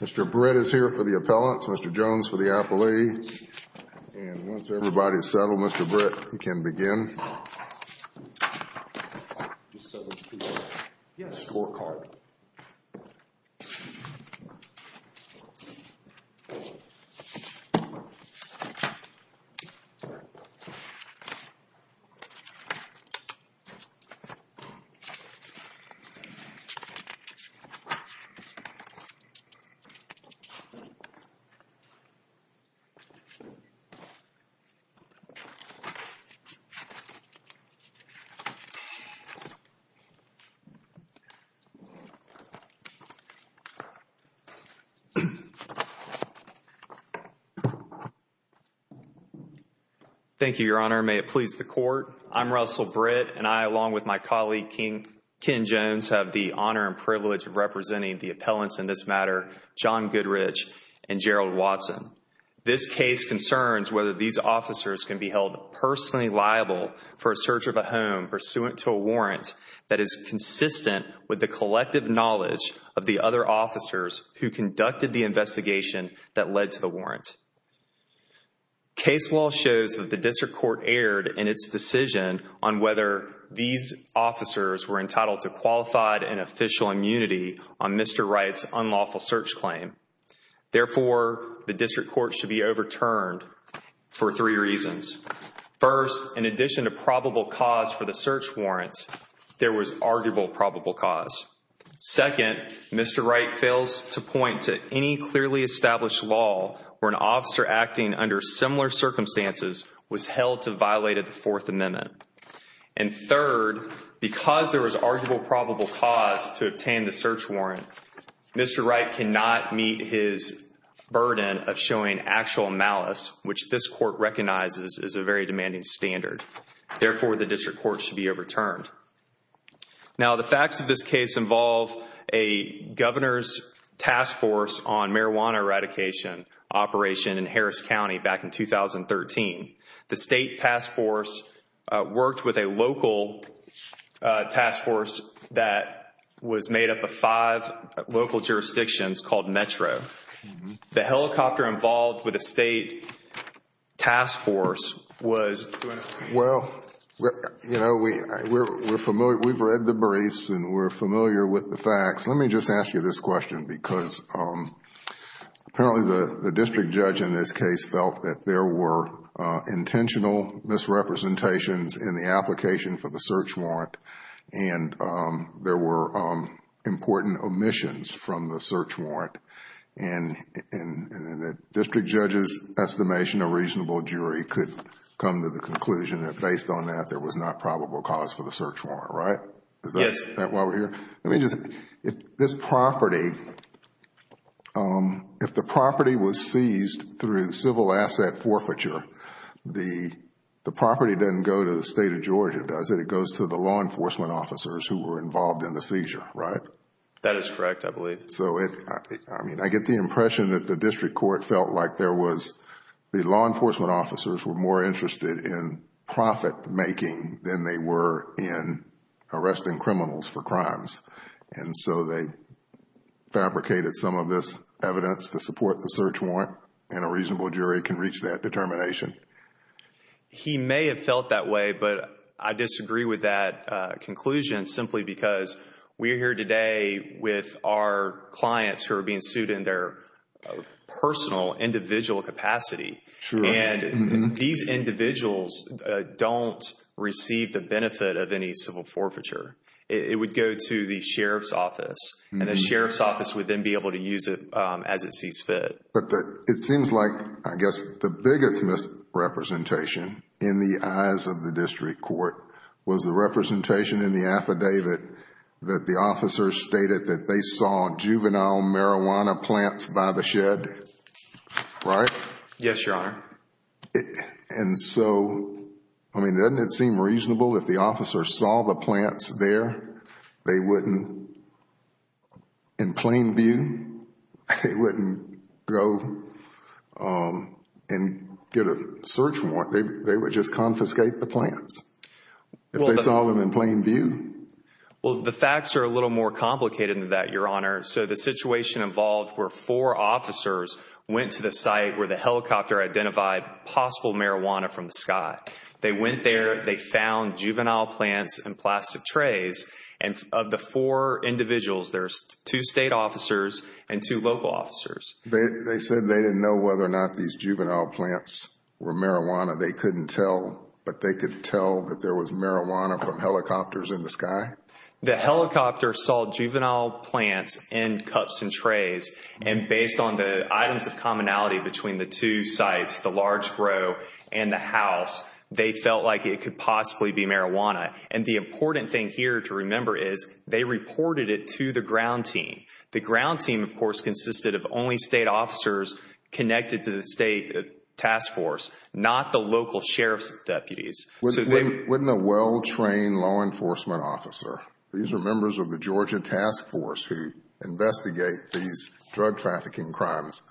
Mr. Britt is here for the appellants, Mr. Jones for the appellee, and once everybody is settled, Mr. Britt, we can begin. Russell Britt, Jr. Thank you, Your Honor. May it please the Court, I'm Russell Britt, and I, along with my colleague, Ken Jones, have the honor and privilege of representing the appellants in this matter, John Goodrich and Gerald Watson. This case concerns whether these officers can be held personally liable for a search of a home pursuant to a warrant that is consistent with the collective knowledge of the other officers who conducted the investigation that led to the warrant. Case law shows that the district court erred in its decision on whether these officers were entitled to qualified and official immunity on Mr. Wright's unlawful search claim. Therefore, the district court should be overturned for three reasons. First, in addition to probable cause for the search warrant, there was arguable probable cause. Second, Mr. Wright fails to point to any clearly established law where an officer acting under similar circumstances was held to violate a Fourth Amendment. And third, because there was arguable probable cause to obtain the search warrant, Mr. Wright cannot meet his burden of showing actual malice, which this court recognizes is a very demanding standard. Therefore, the district court should be overturned. Now, the facts of this case involve a governor's task force on marijuana eradication operation in Harris County back in 2013. The state task force worked with a local task force that was made up of five local jurisdictions called Metro. The helicopter involved with the state task force was... Well, you know, we've read the briefs and we're familiar with the facts. Let me just ask you this question because apparently the district judge in this case felt that there were intentional misrepresentations in the application for the search warrant and there were important omissions from the search warrant. And the district judge's estimation of reasonable jury could come to the conclusion that based on that, there was not probable cause for the search warrant, right? Is that why we're here? Yes. Let me just, if this property, if the property was seized through civil asset forfeiture, the property doesn't go to the state of Georgia, does it? It goes to the law enforcement officers who were involved in the seizure, right? That is correct, I believe. So, I mean, I get the impression that the district court felt like there was, the law enforcement officers were more interested in profit making than they were in arresting for crimes. And so, they fabricated some of this evidence to support the search warrant and a reasonable jury can reach that determination. He may have felt that way, but I disagree with that conclusion simply because we're here today with our clients who are being sued in their personal, individual capacity. Sure. And these individuals don't receive the benefit of any civil forfeiture. It would go to the sheriff's office and the sheriff's office would then be able to use it as it sees fit. But it seems like, I guess, the biggest misrepresentation in the eyes of the district court was the representation in the affidavit that the officers stated that they saw juvenile marijuana plants by the shed, right? Yes, Your Honor. And so, I mean, doesn't it seem reasonable if the officers saw the plants there, they wouldn't, in plain view, they wouldn't go and get a search warrant. They would just confiscate the plants if they saw them in plain view. Well, the facts are a little more complicated than that, Your Honor. So the situation involved were four officers went to the site where the helicopter identified possible marijuana from the sky. They went there, they found juvenile plants in plastic trays. And of the four individuals, there's two state officers and two local officers. They said they didn't know whether or not these juvenile plants were marijuana. They couldn't tell, but they could tell that there was marijuana from helicopters in the sky? The helicopter saw juvenile plants in cups and trays, and based on the items of commonality between the two sites, the large grow and the house, they felt like it could possibly be marijuana. And the important thing here to remember is they reported it to the ground team. The ground team, of course, consisted of only state officers connected to the state task force, not the local sheriff's deputies. Wouldn't a well-trained law enforcement officer, these are members of the Georgia task force who investigate these drug trafficking crimes,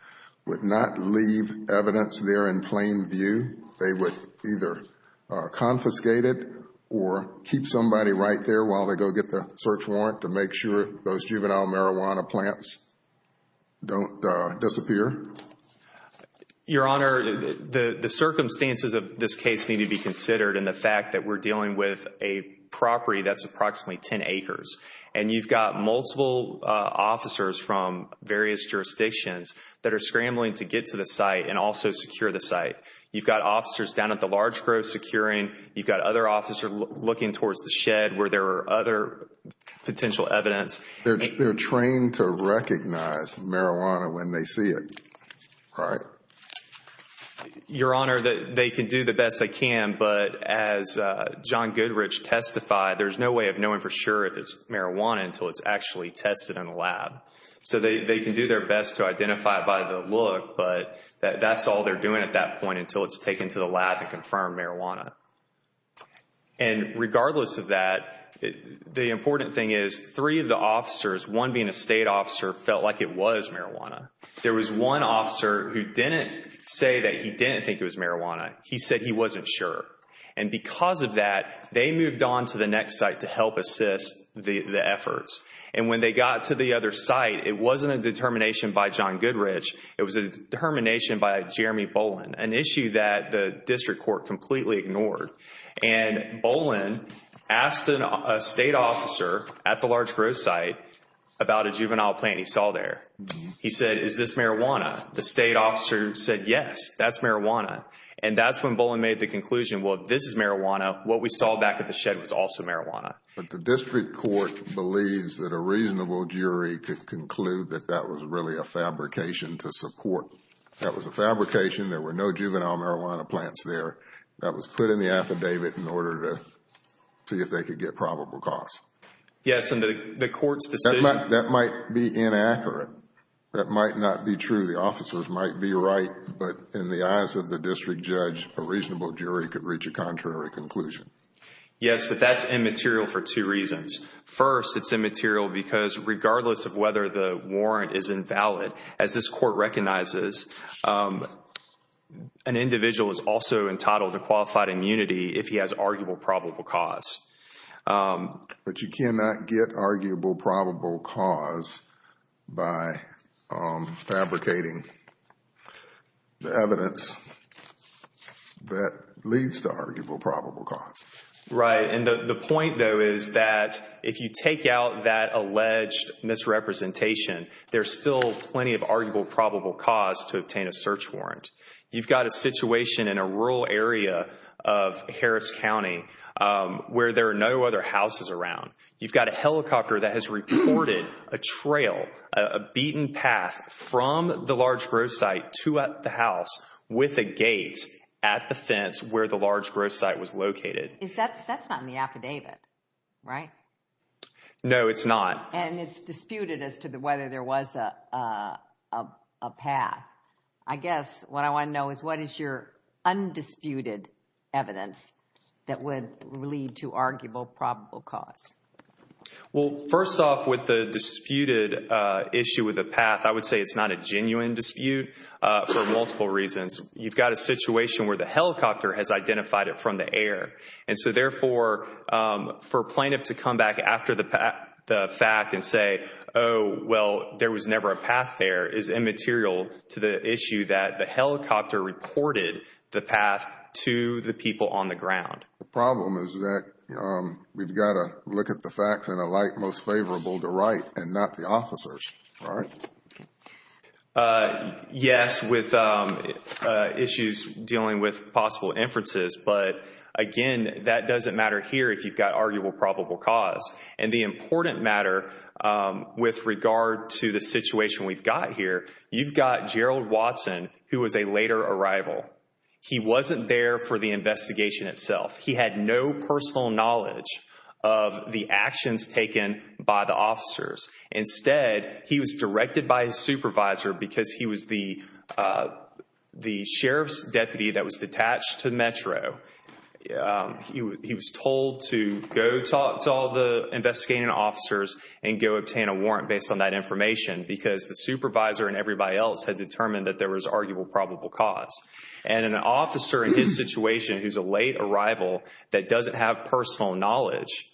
would not leave evidence there in plain view? They would either confiscate it or keep somebody right there while they go get the search warrant to make sure those juvenile marijuana plants don't disappear? Your Honor, the circumstances of this case need to be considered in the fact that we're dealing with a property that's approximately 10 acres. And you've got multiple officers from various jurisdictions that are scrambling to get to the site and also secure the site. You've got officers down at the large grow securing. You've got other officers looking towards the shed where there are other potential evidence. They're trained to recognize marijuana when they see it, right? Your Honor, they can do the best they can, but as John Goodrich testified, there's no way of knowing for sure if it's marijuana until it's actually tested in the lab. So they can do their best to identify it by the look, but that's all they're doing at that point until it's taken to the lab to confirm marijuana. And regardless of that, the important thing is three of the officers, one being a state officer, felt like it was marijuana. There was one officer who didn't say that he didn't think it was marijuana. He said he wasn't sure. And because of that, they moved on to the next site to help assist the efforts. And when they got to the other site, it wasn't a determination by John Goodrich. It was a determination by Jeremy Bolin, an issue that the district court completely ignored. And Bolin asked a state officer at the large grow site about a juvenile plant he saw there. He said, is this marijuana? The state officer said, yes, that's marijuana. And that's when Bolin made the conclusion, well, if this is marijuana, what we saw back at the shed was also marijuana. But the district court believes that a reasonable jury could conclude that that was really a fabrication to support. That was a fabrication. There were no juvenile marijuana plants there. That was put in the affidavit in order to see if they could get probable cause. Yes. And the court's decision... That might be inaccurate. That might not be true. The officers might be right. But in the eyes of the district judge, a reasonable jury could reach a contrary conclusion. Yes. But that's immaterial for two reasons. First, it's immaterial because regardless of whether the warrant is invalid, as this court recognizes, an individual is also entitled to qualified immunity if he has arguable probable cause. But you cannot get arguable probable cause by fabricating the evidence that leads to arguable probable cause. Right. The point, though, is that if you take out that alleged misrepresentation, there's still plenty of arguable probable cause to obtain a search warrant. You've got a situation in a rural area of Harris County where there are no other houses around. You've got a helicopter that has recorded a trail, a beaten path from the large growth site to the house with a gate at the fence where the large growth site was located. That's not in the affidavit, right? No, it's not. And it's disputed as to whether there was a path. I guess what I want to know is what is your undisputed evidence that would lead to arguable probable cause? Well, first off, with the disputed issue with the path, I would say it's not a genuine dispute for multiple reasons. You've got a situation where the helicopter has identified it from the air. And so therefore, for a plaintiff to come back after the fact and say, oh, well, there was never a path there, is immaterial to the issue that the helicopter reported the path to the people on the ground. The problem is that we've got to look at the facts in a light most favorable to right and not the officers, right? Yes, with issues dealing with possible inferences. But again, that doesn't matter here if you've got arguable probable cause. And the important matter with regard to the situation we've got here, you've got Gerald Watson, who was a later arrival. He wasn't there for the investigation itself. He had no personal knowledge of the actions taken by the officers. Instead, he was directed by his supervisor because he was the sheriff's deputy that was detached to Metro. He was told to go talk to all the investigating officers and go obtain a warrant based on that information because the supervisor and everybody else had determined that there was arguable probable cause. And an officer in his situation who's a late arrival that doesn't have personal knowledge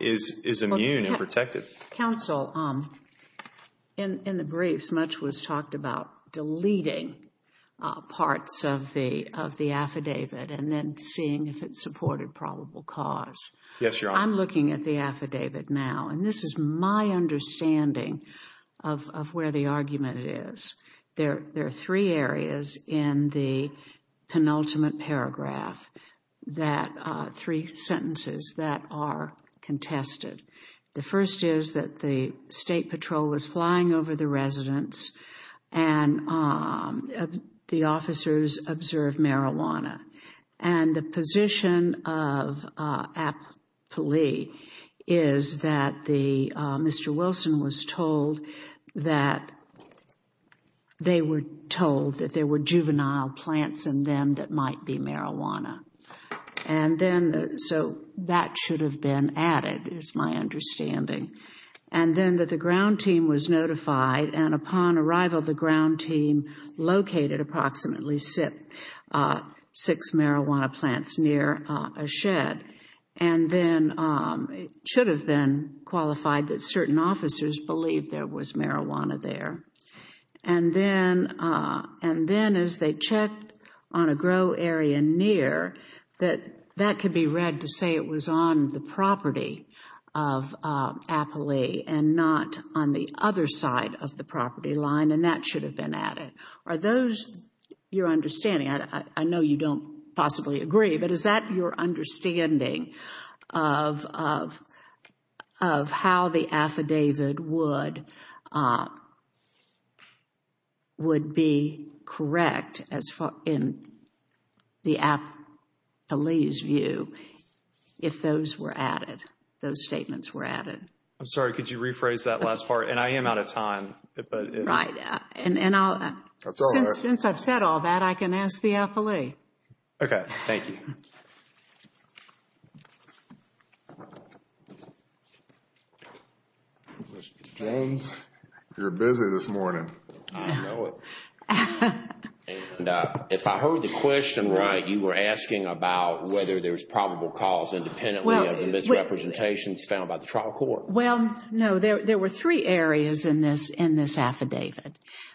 is immune and protected. Counsel, in the briefs, much was talked about deleting parts of the affidavit and then seeing if it supported probable cause. Yes, Your Honor. I'm looking at the affidavit now, and this is my understanding of where the argument is. There are three areas in the penultimate paragraph, three sentences that are contested. The first is that the state patrol was flying over the residence and the officers observed marijuana. And the position of Applee is that Mr. Wilson was told that they were told that there were juvenile plants in them that might be marijuana. And then, so that should have been added is my understanding. And then that the ground team was notified, and upon arrival, the ground team located approximately six marijuana plants near a shed. And then it should have been qualified that certain officers believed there was marijuana there. And then as they checked on a grow area near, that that could be read to say it was on the property of Applee and not on the other side of the property line, and that should have been added. Are those your understanding? I know you don't possibly agree, but is that your understanding of how the affidavit would come out would be correct in the Applee's view if those were added, those statements were added? I'm sorry. Could you rephrase that last part? And I am out of time. Right. And I'll, since I've said all that, I can ask the Applee. Okay. Thank you. Mr. Jones, you're busy this morning. I know it. And if I heard the question right, you were asking about whether there's probable cause independently of the misrepresentations found by the trial court. Well, no. There were three areas in this affidavit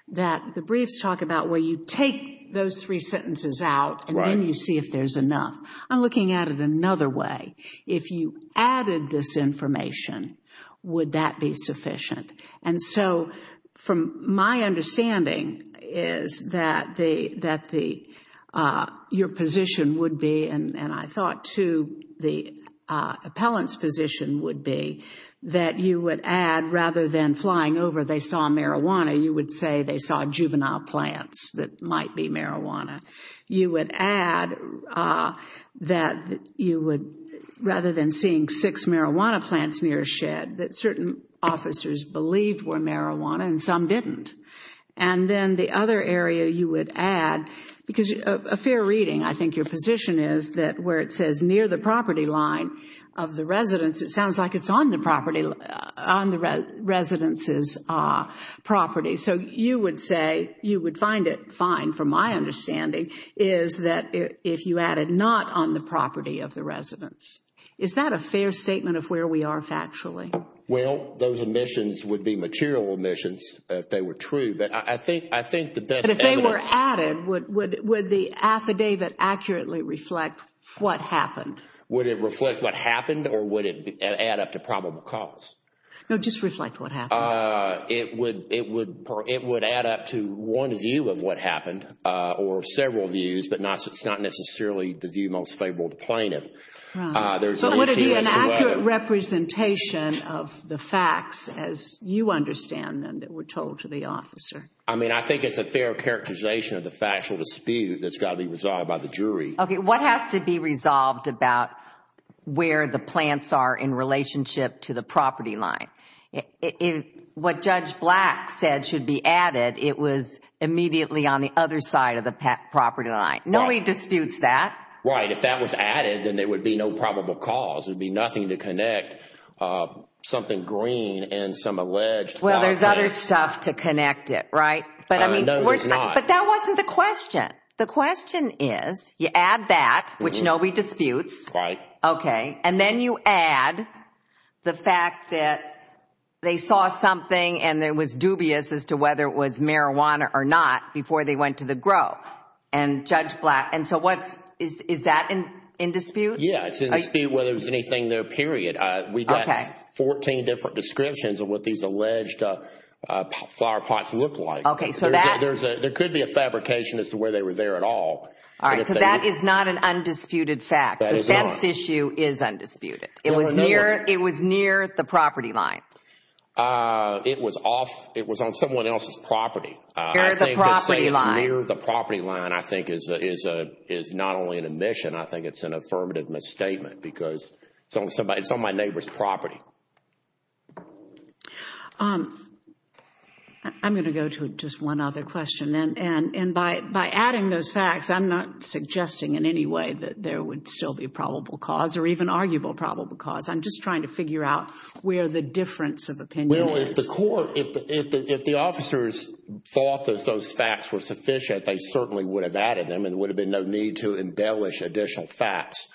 that the briefs talk about where you take those three sentences out and then you see if there's enough. I'm looking at it another way. If you added this information, would that be sufficient? And so from my understanding is that your position would be, and I thought too the appellant's position would be, that you would add rather than flying over they saw marijuana, you would say they saw juvenile plants that might be marijuana. You would add that you would, rather than seeing six marijuana plants near a shed, that certain officers believed were marijuana and some didn't. And then the other area you would add, because a fair reading, I think your position is that where it says near the property line of the residence, it sounds like it's on the property, on the residence's property. So you would say, you would find it fine, from my understanding, is that if you added not on the property of the residence. Is that a fair statement of where we are factually? Well, those omissions would be material omissions if they were true, but I think the best evidence But if they were added, would the affidavit accurately reflect what happened? Would it reflect what happened or would it add up to probable cause? No, just reflect what happened. It would add up to one view of what happened or several views, but it's not necessarily the view most favorable to plaintiff. So it would be an accurate representation of the facts as you understand them that were told to the officer? I mean, I think it's a fair characterization of the factual dispute that's got to be resolved by the jury. Okay, what has to be resolved about where the plants are in relationship to the property line? What Judge Black said should be added, it was immediately on the other side of the property line. Nobody disputes that. Right. If that was added, then there would be no probable cause. There would be nothing to connect something green and some alleged Southland. Well, there's other stuff to connect it, right? But I mean, that wasn't the question. The question is, you add that, which nobody disputes, okay, and then you add the fact that they saw something and it was dubious as to whether it was marijuana or not before they went to the grow and Judge Black. And so what's, is that in dispute? Yeah, it's in dispute whether it was anything there, period. We got 14 different descriptions of what these alleged flower pots look like. Okay, so that. There could be a fabrication as to where they were there at all. All right, so that is not an undisputed fact. The fence issue is undisputed. It was near the property line. It was off, it was on someone else's property. Near the property line. I think to say it's near the property line, I think is not only an admission, I think it's an affirmative misstatement because it's on my neighbor's property. I'm going to go to just one other question. And by adding those facts, I'm not suggesting in any way that there would still be probable cause or even arguable probable cause. I'm just trying to figure out where the difference of opinion is. Well, if the court, if the officers thought that those facts were sufficient, they certainly would have added them and there would have been no need to embellish additional facts.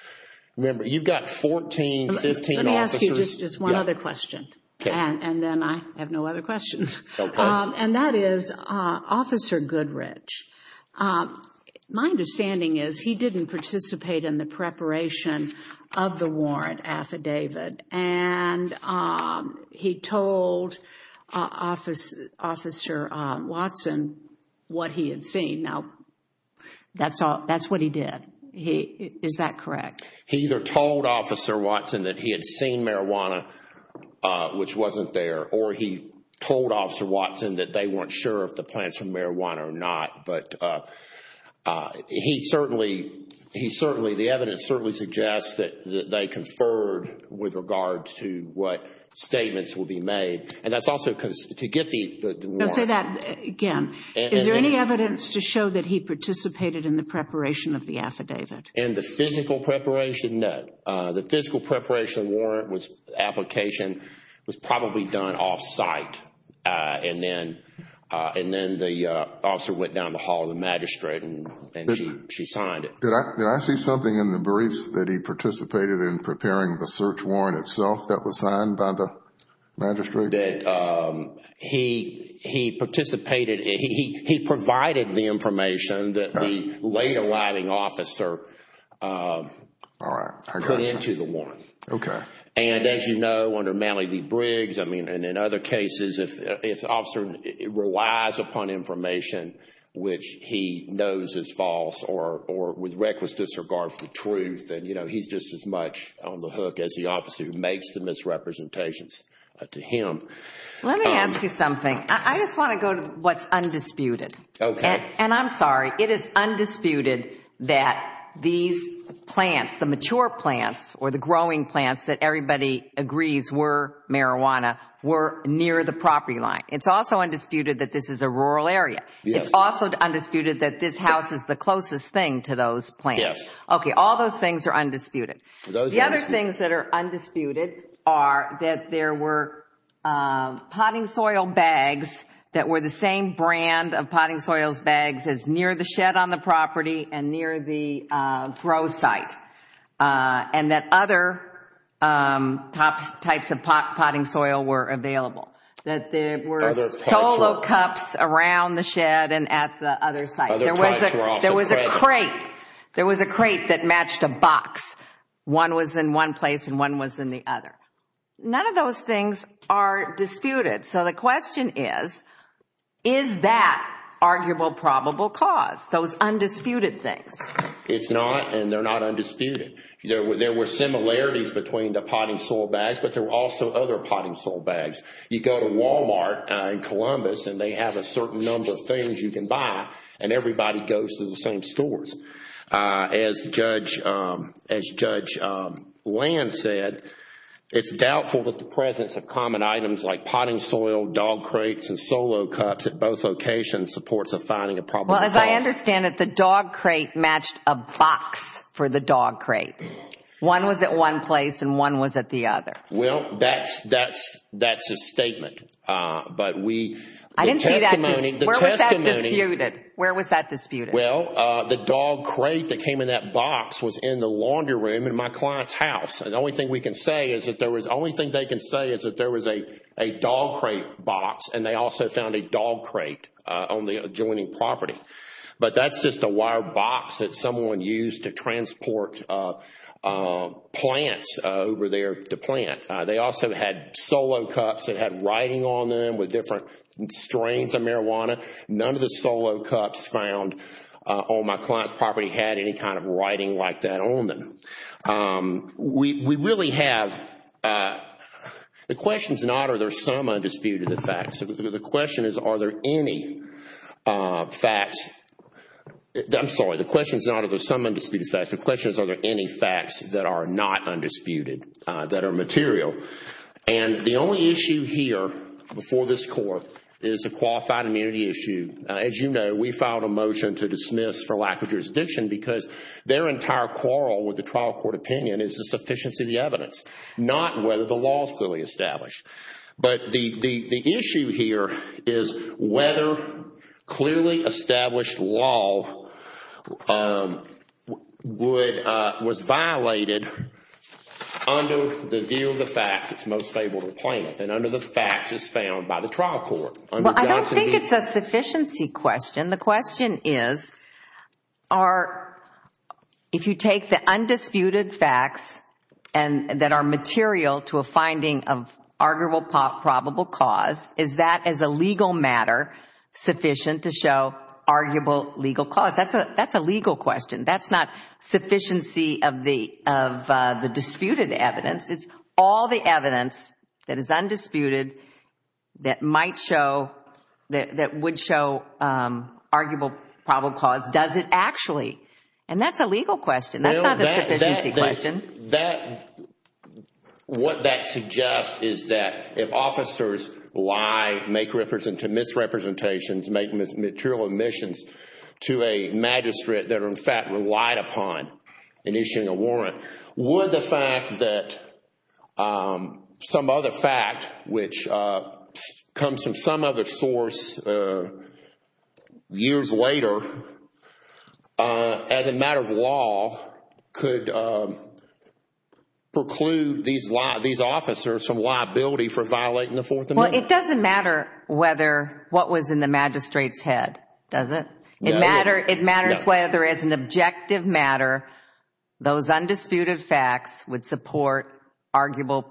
Remember, you've got 14, 15 officers. Let me ask you just one other question. And then I have no other questions. And that is Officer Goodrich. My understanding is he didn't participate in the preparation of the warrant affidavit. And he told Officer Watson what he had seen. Now, that's what he did. Is that correct? He either told Officer Watson that he had seen marijuana, which wasn't there, or he wasn't sure if the plants were marijuana or not. But he certainly, the evidence certainly suggests that they conferred with regard to what statements will be made. And that's also because to get the warrant... No, say that again. Is there any evidence to show that he participated in the preparation of the affidavit? In the physical preparation? No. The physical preparation warrant application was probably done off-site. And then the officer went down to the hall of the magistrate and she signed it. Did I see something in the briefs that he participated in preparing the search warrant itself that was signed by the magistrate? That he participated, he provided the information that the late arriving officer put into the warrant. Okay. And as you know, under Malley v. Briggs, and in other cases, if the officer relies upon information which he knows is false or with reckless disregard for the truth, then he's just as much on the hook as the officer who makes the misrepresentations to him. Let me ask you something. I just want to go to what's undisputed. And I'm sorry, it is undisputed that these plants, the mature plants or the growing plants that everybody agrees were marijuana, were near the property line. It's also undisputed that this is a rural area. It's also undisputed that this house is the closest thing to those plants. Yes. Okay. All those things are undisputed. The other things that are undisputed are that there were potting soil bags that were the same brand of potting soil bags as near the shed on the property and near the grow site. And that other types of potting soil were available. That there were solo cups around the shed and at the other site. Other types were also present. There was a crate. There was a crate that matched a box. One was in one place and one was in the other. None of those things are disputed. So the question is, is that arguable probable cause? Those undisputed things. It's not and they're not undisputed. There were similarities between the potting soil bags but there were also other potting soil bags. You go to Walmart in Columbus and they have a certain number of things you can buy and everybody goes to the same stores. As Judge Land said, it's doubtful that the presence of common items like potting soil, dog crates and solo cups at both locations supports a finding of probable cause. Well, as I understand it, the dog crate matched a box for the dog crate. One was at one place and one was at the other. Well, that's a statement. But we... I didn't see that... The testimony... Where was that disputed? Where was that disputed? Well, the dog crate that came in that box was in the laundry room in my client's house. And the only thing we can say is that there was... The only thing they can say is that there was a dog crate box and they also found a jointing property. But that's just a wire box that someone used to transport plants over there to plant. They also had solo cups that had writing on them with different strains of marijuana. None of the solo cups found on my client's property had any kind of writing like that on them. We really have... The question is not are there some undisputed effects. The question is are there any facts... I'm sorry. The question is not are there some undisputed facts. The question is are there any facts that are not undisputed, that are material. And the only issue here before this Court is a qualified immunity issue. As you know, we filed a motion to dismiss for lack of jurisdiction because their entire quarrel with the trial court opinion is the sufficiency of the evidence, not whether the law is fully established. But the issue here is whether clearly established law was violated under the view of the facts that's most favorable to the plaintiff and under the facts that's found by the trial court. Well, I don't think it's a sufficiency question. The question is if you take the undisputed facts and that are material to a finding of arguable probable cause, is that as a legal matter sufficient to show arguable legal cause? That's a legal question. That's not sufficiency of the disputed evidence. It's all the evidence that is undisputed that might show, that would show arguable probable cause. Does it actually? And that's a legal question. That's not a sufficiency question. And what that suggests is that if officers lie, make misrepresentations, make material omissions to a magistrate that are in fact relied upon in issuing a warrant, would the fact that some other fact which comes from some other source years later as a matter of law could preclude these officers from liability for violating the Fourth Amendment? Well, it doesn't matter whether what was in the magistrate's head, does it? It matters whether as an objective matter, those undisputed facts would support arguable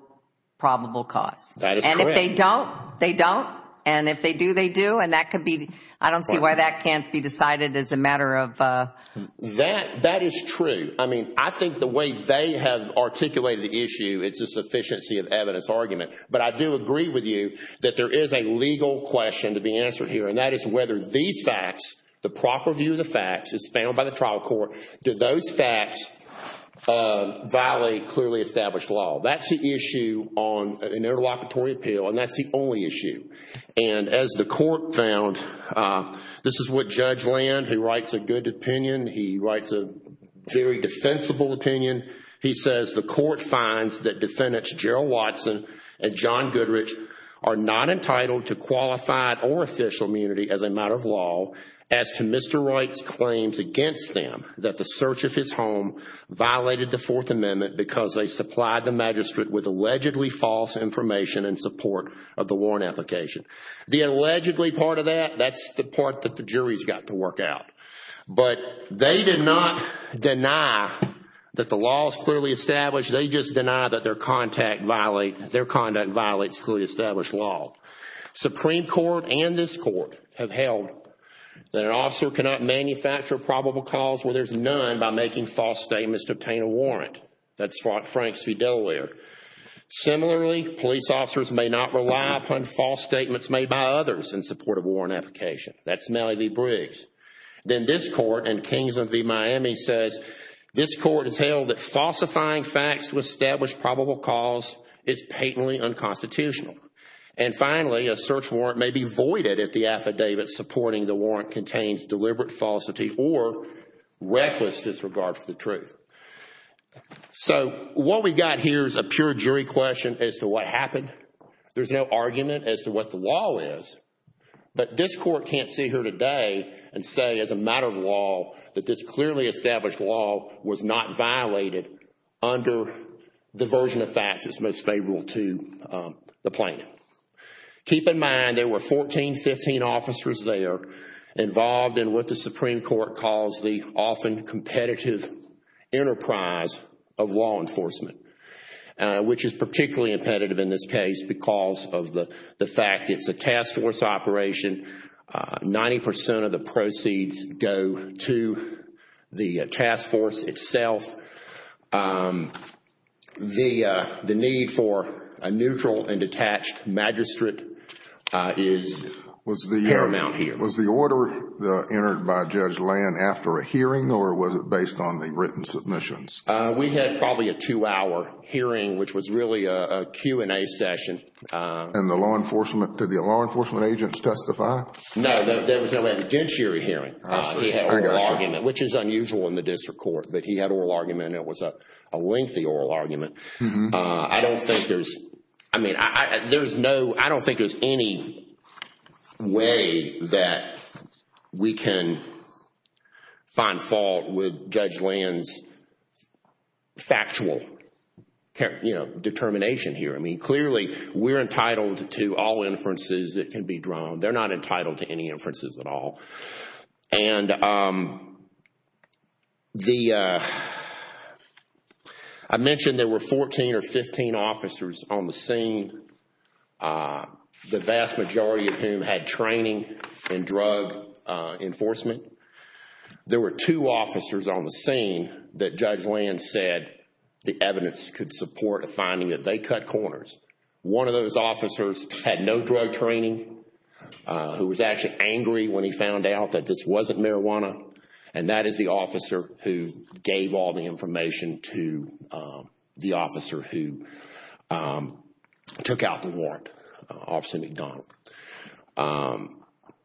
probable cause. That is correct. And if they don't, they don't. And if they do, they do. And that could be, I don't see why that can't be decided as a matter of... That is true. I mean, I think the way they have articulated the issue, it's a sufficiency of evidence argument. But I do agree with you that there is a legal question to be answered here, and that is whether these facts, the proper view of the facts, as found by the trial court, do those facts violate clearly established law. That's the issue on an interlocutory appeal, and that's the only issue. And as the court found, this is what Judge Land, who writes a good opinion, he writes a very defensible opinion. He says, the court finds that defendants Gerald Watson and John Goodrich are not entitled to qualified or official immunity as a matter of law as to Mr. Wright's claims against them that the search of his home violated the Fourth Amendment because they supplied the magistrate with allegedly false information in support of the warrant application. The allegedly part of that, that's the part that the jury's got to work out. But they did not deny that the law is clearly established. They just deny that their conduct violates clearly established law. Supreme Court and this court have held that an officer cannot manufacture probable cause where there's none by making false statements to obtain a warrant. That's what Frank Fidelaware. Similarly, police officers may not rely upon false statements made by others in support of warrant application. That's Nellie V. Briggs. Then this court in Kingsland v. Miami says, this court has held that falsifying facts to establish probable cause is patently unconstitutional. And finally, a search warrant may be voided if the affidavit supporting the warrant contains deliberate falsity or reckless disregard for the truth. So what we got here is a pure jury question as to what happened. There's no argument as to what the law is. But this court can't see here today and say as a matter of law that this clearly established law was not violated under the version of facts that's most favorable to the plaintiff. Keep in mind there were 14, 15 officers there involved in what the Supreme Court calls the often competitive enterprise of law enforcement, which is particularly impetitive in this case because of the fact it's a task force operation, 90% of the proceeds go to the task force itself. So the need for a neutral and detached magistrate is paramount here. Was the order entered by Judge Land after a hearing or was it based on the written submissions? We had probably a two-hour hearing, which was really a Q&A session. And the law enforcement, did the law enforcement agents testify? No, there was no evidentiary hearing. He had oral argument, which is unusual in the district court, but he had oral argument and it was a lengthy oral argument. I don't think there's any way that we can find fault with Judge Land's factual determination here. I mean, clearly we're entitled to all inferences that can be drawn. They're not entitled to any inferences at all. And I mentioned there were 14 or 15 officers on the scene, the vast majority of whom had training in drug enforcement. There were two officers on the scene that Judge Land said the evidence could support a finding that they cut corners. One of those officers had no drug training, who was actually angry when he found out that this wasn't marijuana. And that is the officer who gave all the information to the officer who took out the warrant, Officer McDonald.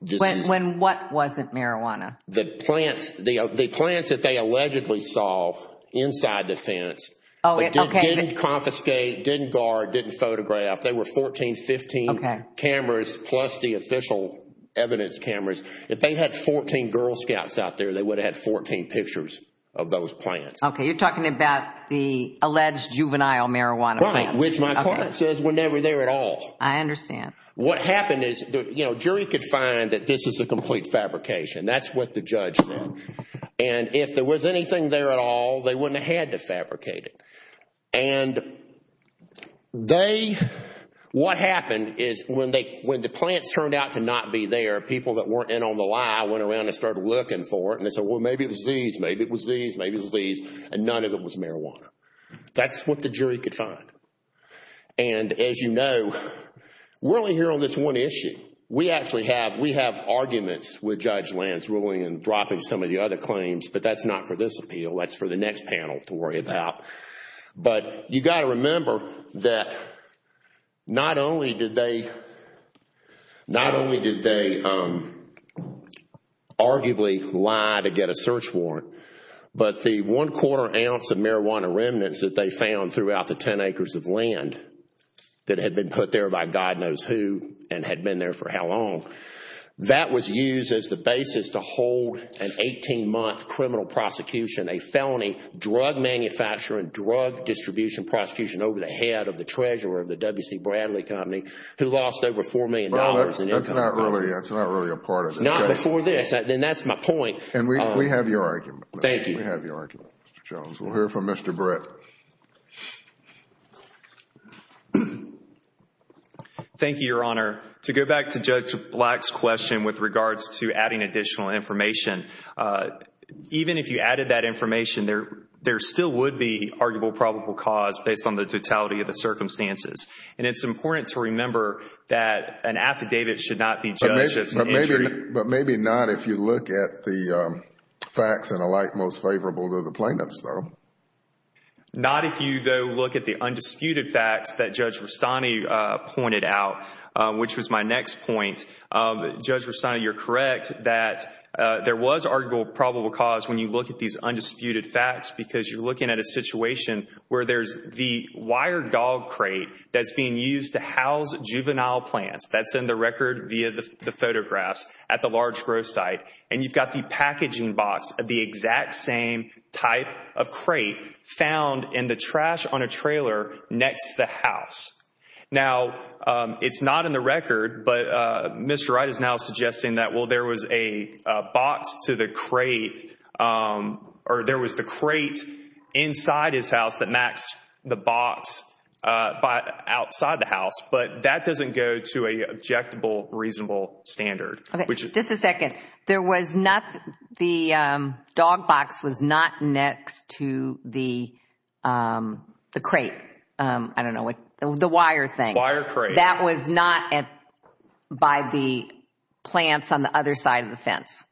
When what wasn't marijuana? The plants that they allegedly saw inside the fence, but didn't confiscate, didn't guard, didn't photograph, they were 14, 15 cameras plus the official evidence cameras. If they had 14 Girl Scouts out there, they would have had 14 pictures of those plants. Okay. You're talking about the alleged juvenile marijuana plants. Right. Which my client says were never there at all. I understand. What happened is the jury could find that this is a complete fabrication. That's what the judge said. And if there was anything there at all, they wouldn't have had to fabricate it. And they, what happened is when the plants turned out to not be there, people that weren't in on the lie went around and started looking for it. And they said, well, maybe it was these, maybe it was these, maybe it was these, and none of it was marijuana. That's what the jury could find. And as you know, we're only here on this one issue. We actually have arguments with Judge Land's ruling and dropping some of the other claims, but that's not for this appeal. That's for the next panel to worry about. But you've got to remember that not only did they arguably lie to get a search warrant, but the one quarter ounce of marijuana remnants that they found throughout the 10 acres of land that had been put there by God knows who and had been there for how long, that was used as the basis to hold an 18-month criminal prosecution, a felony drug manufacturer and drug distribution prosecution over the head of the treasurer of the W.C. Bradley Company who lost over $4 million in income. That's not really a part of this case. Not before this. And that's my point. And we have your argument. Thank you. We have your argument, Mr. Jones. We'll hear from Mr. Brett. Thank you, Your Honor. To go back to Judge Black's question with regards to adding additional information, even if you added that information, there still would be arguable probable cause based on the totality of the circumstances. And it's important to remember that an affidavit should not be judged as an entry. But maybe not if you look at the facts and alike most favorable to the plaintiffs, though. Not if you, though, look at the undisputed facts that Judge Rustani pointed out, which was my next point. Judge Rustani, you're correct that there was arguable probable cause when you look at these undisputed facts because you're looking at a situation where there's the wire dog crate that's being used to house juvenile plants. That's in the record via the photographs at the large growth site. And you've got the packaging box of the exact same type of crate found in the trash on a trailer next to the house. Now, it's not in the record, but Mr. Wright is now suggesting that, well, there was a box to the crate, or there was the crate inside his house that matched the box outside the house. But that doesn't go to an objectable reasonable standard. Okay. Just a second. There was not, the dog box was not next to the crate, I don't know what, the wire thing. Wire crate. That was not by the plants on the other side of the fence.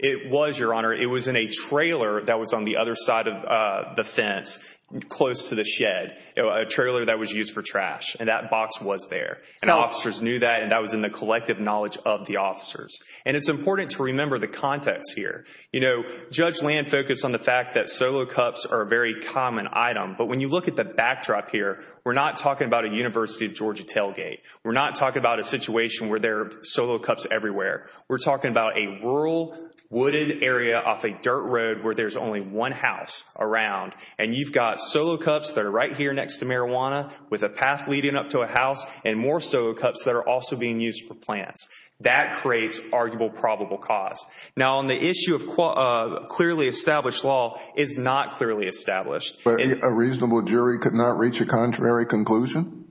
It was, Your Honor. It was in a trailer that was on the other side of the fence, close to the shed, a trailer that was used for trash. And that box was there, and officers knew that, and that was in the collective knowledge of the officers. And it's important to remember the context here. You know, Judge Land focused on the fact that solo cups are a very common item, but when you look at the backdrop here, we're not talking about a University of Georgia tailgate. We're not talking about a situation where there are solo cups everywhere. We're talking about a rural, wooded area off a dirt road where there's only one house around, and you've got solo cups that are right here next to marijuana with a path leading up to a house, and more solo cups that are also being used for plants. That creates arguable probable cause. Now on the issue of clearly established law, it's not clearly established. A reasonable jury could not reach a contrary conclusion?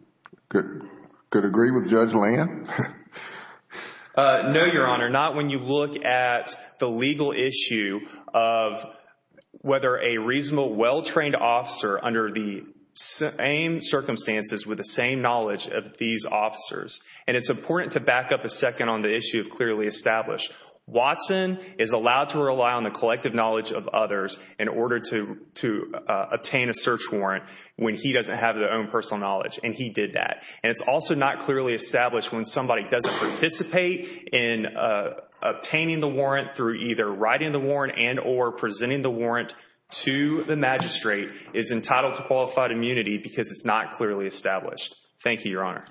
Could agree with Judge Land? No, Your Honor, not when you look at the legal issue of whether a reasonable, well-trained officer under the same circumstances with the same knowledge of these officers. And it's important to back up a second on the issue of clearly established. Watson is allowed to rely on the collective knowledge of others in order to obtain a search warrant when he doesn't have their own personal knowledge, and he did that. And it's also not clearly established when somebody doesn't participate in obtaining the warrant through either writing the warrant and or presenting the warrant to the magistrate is entitled to qualified immunity because it's not clearly established. Thank you, Your Honor. All right.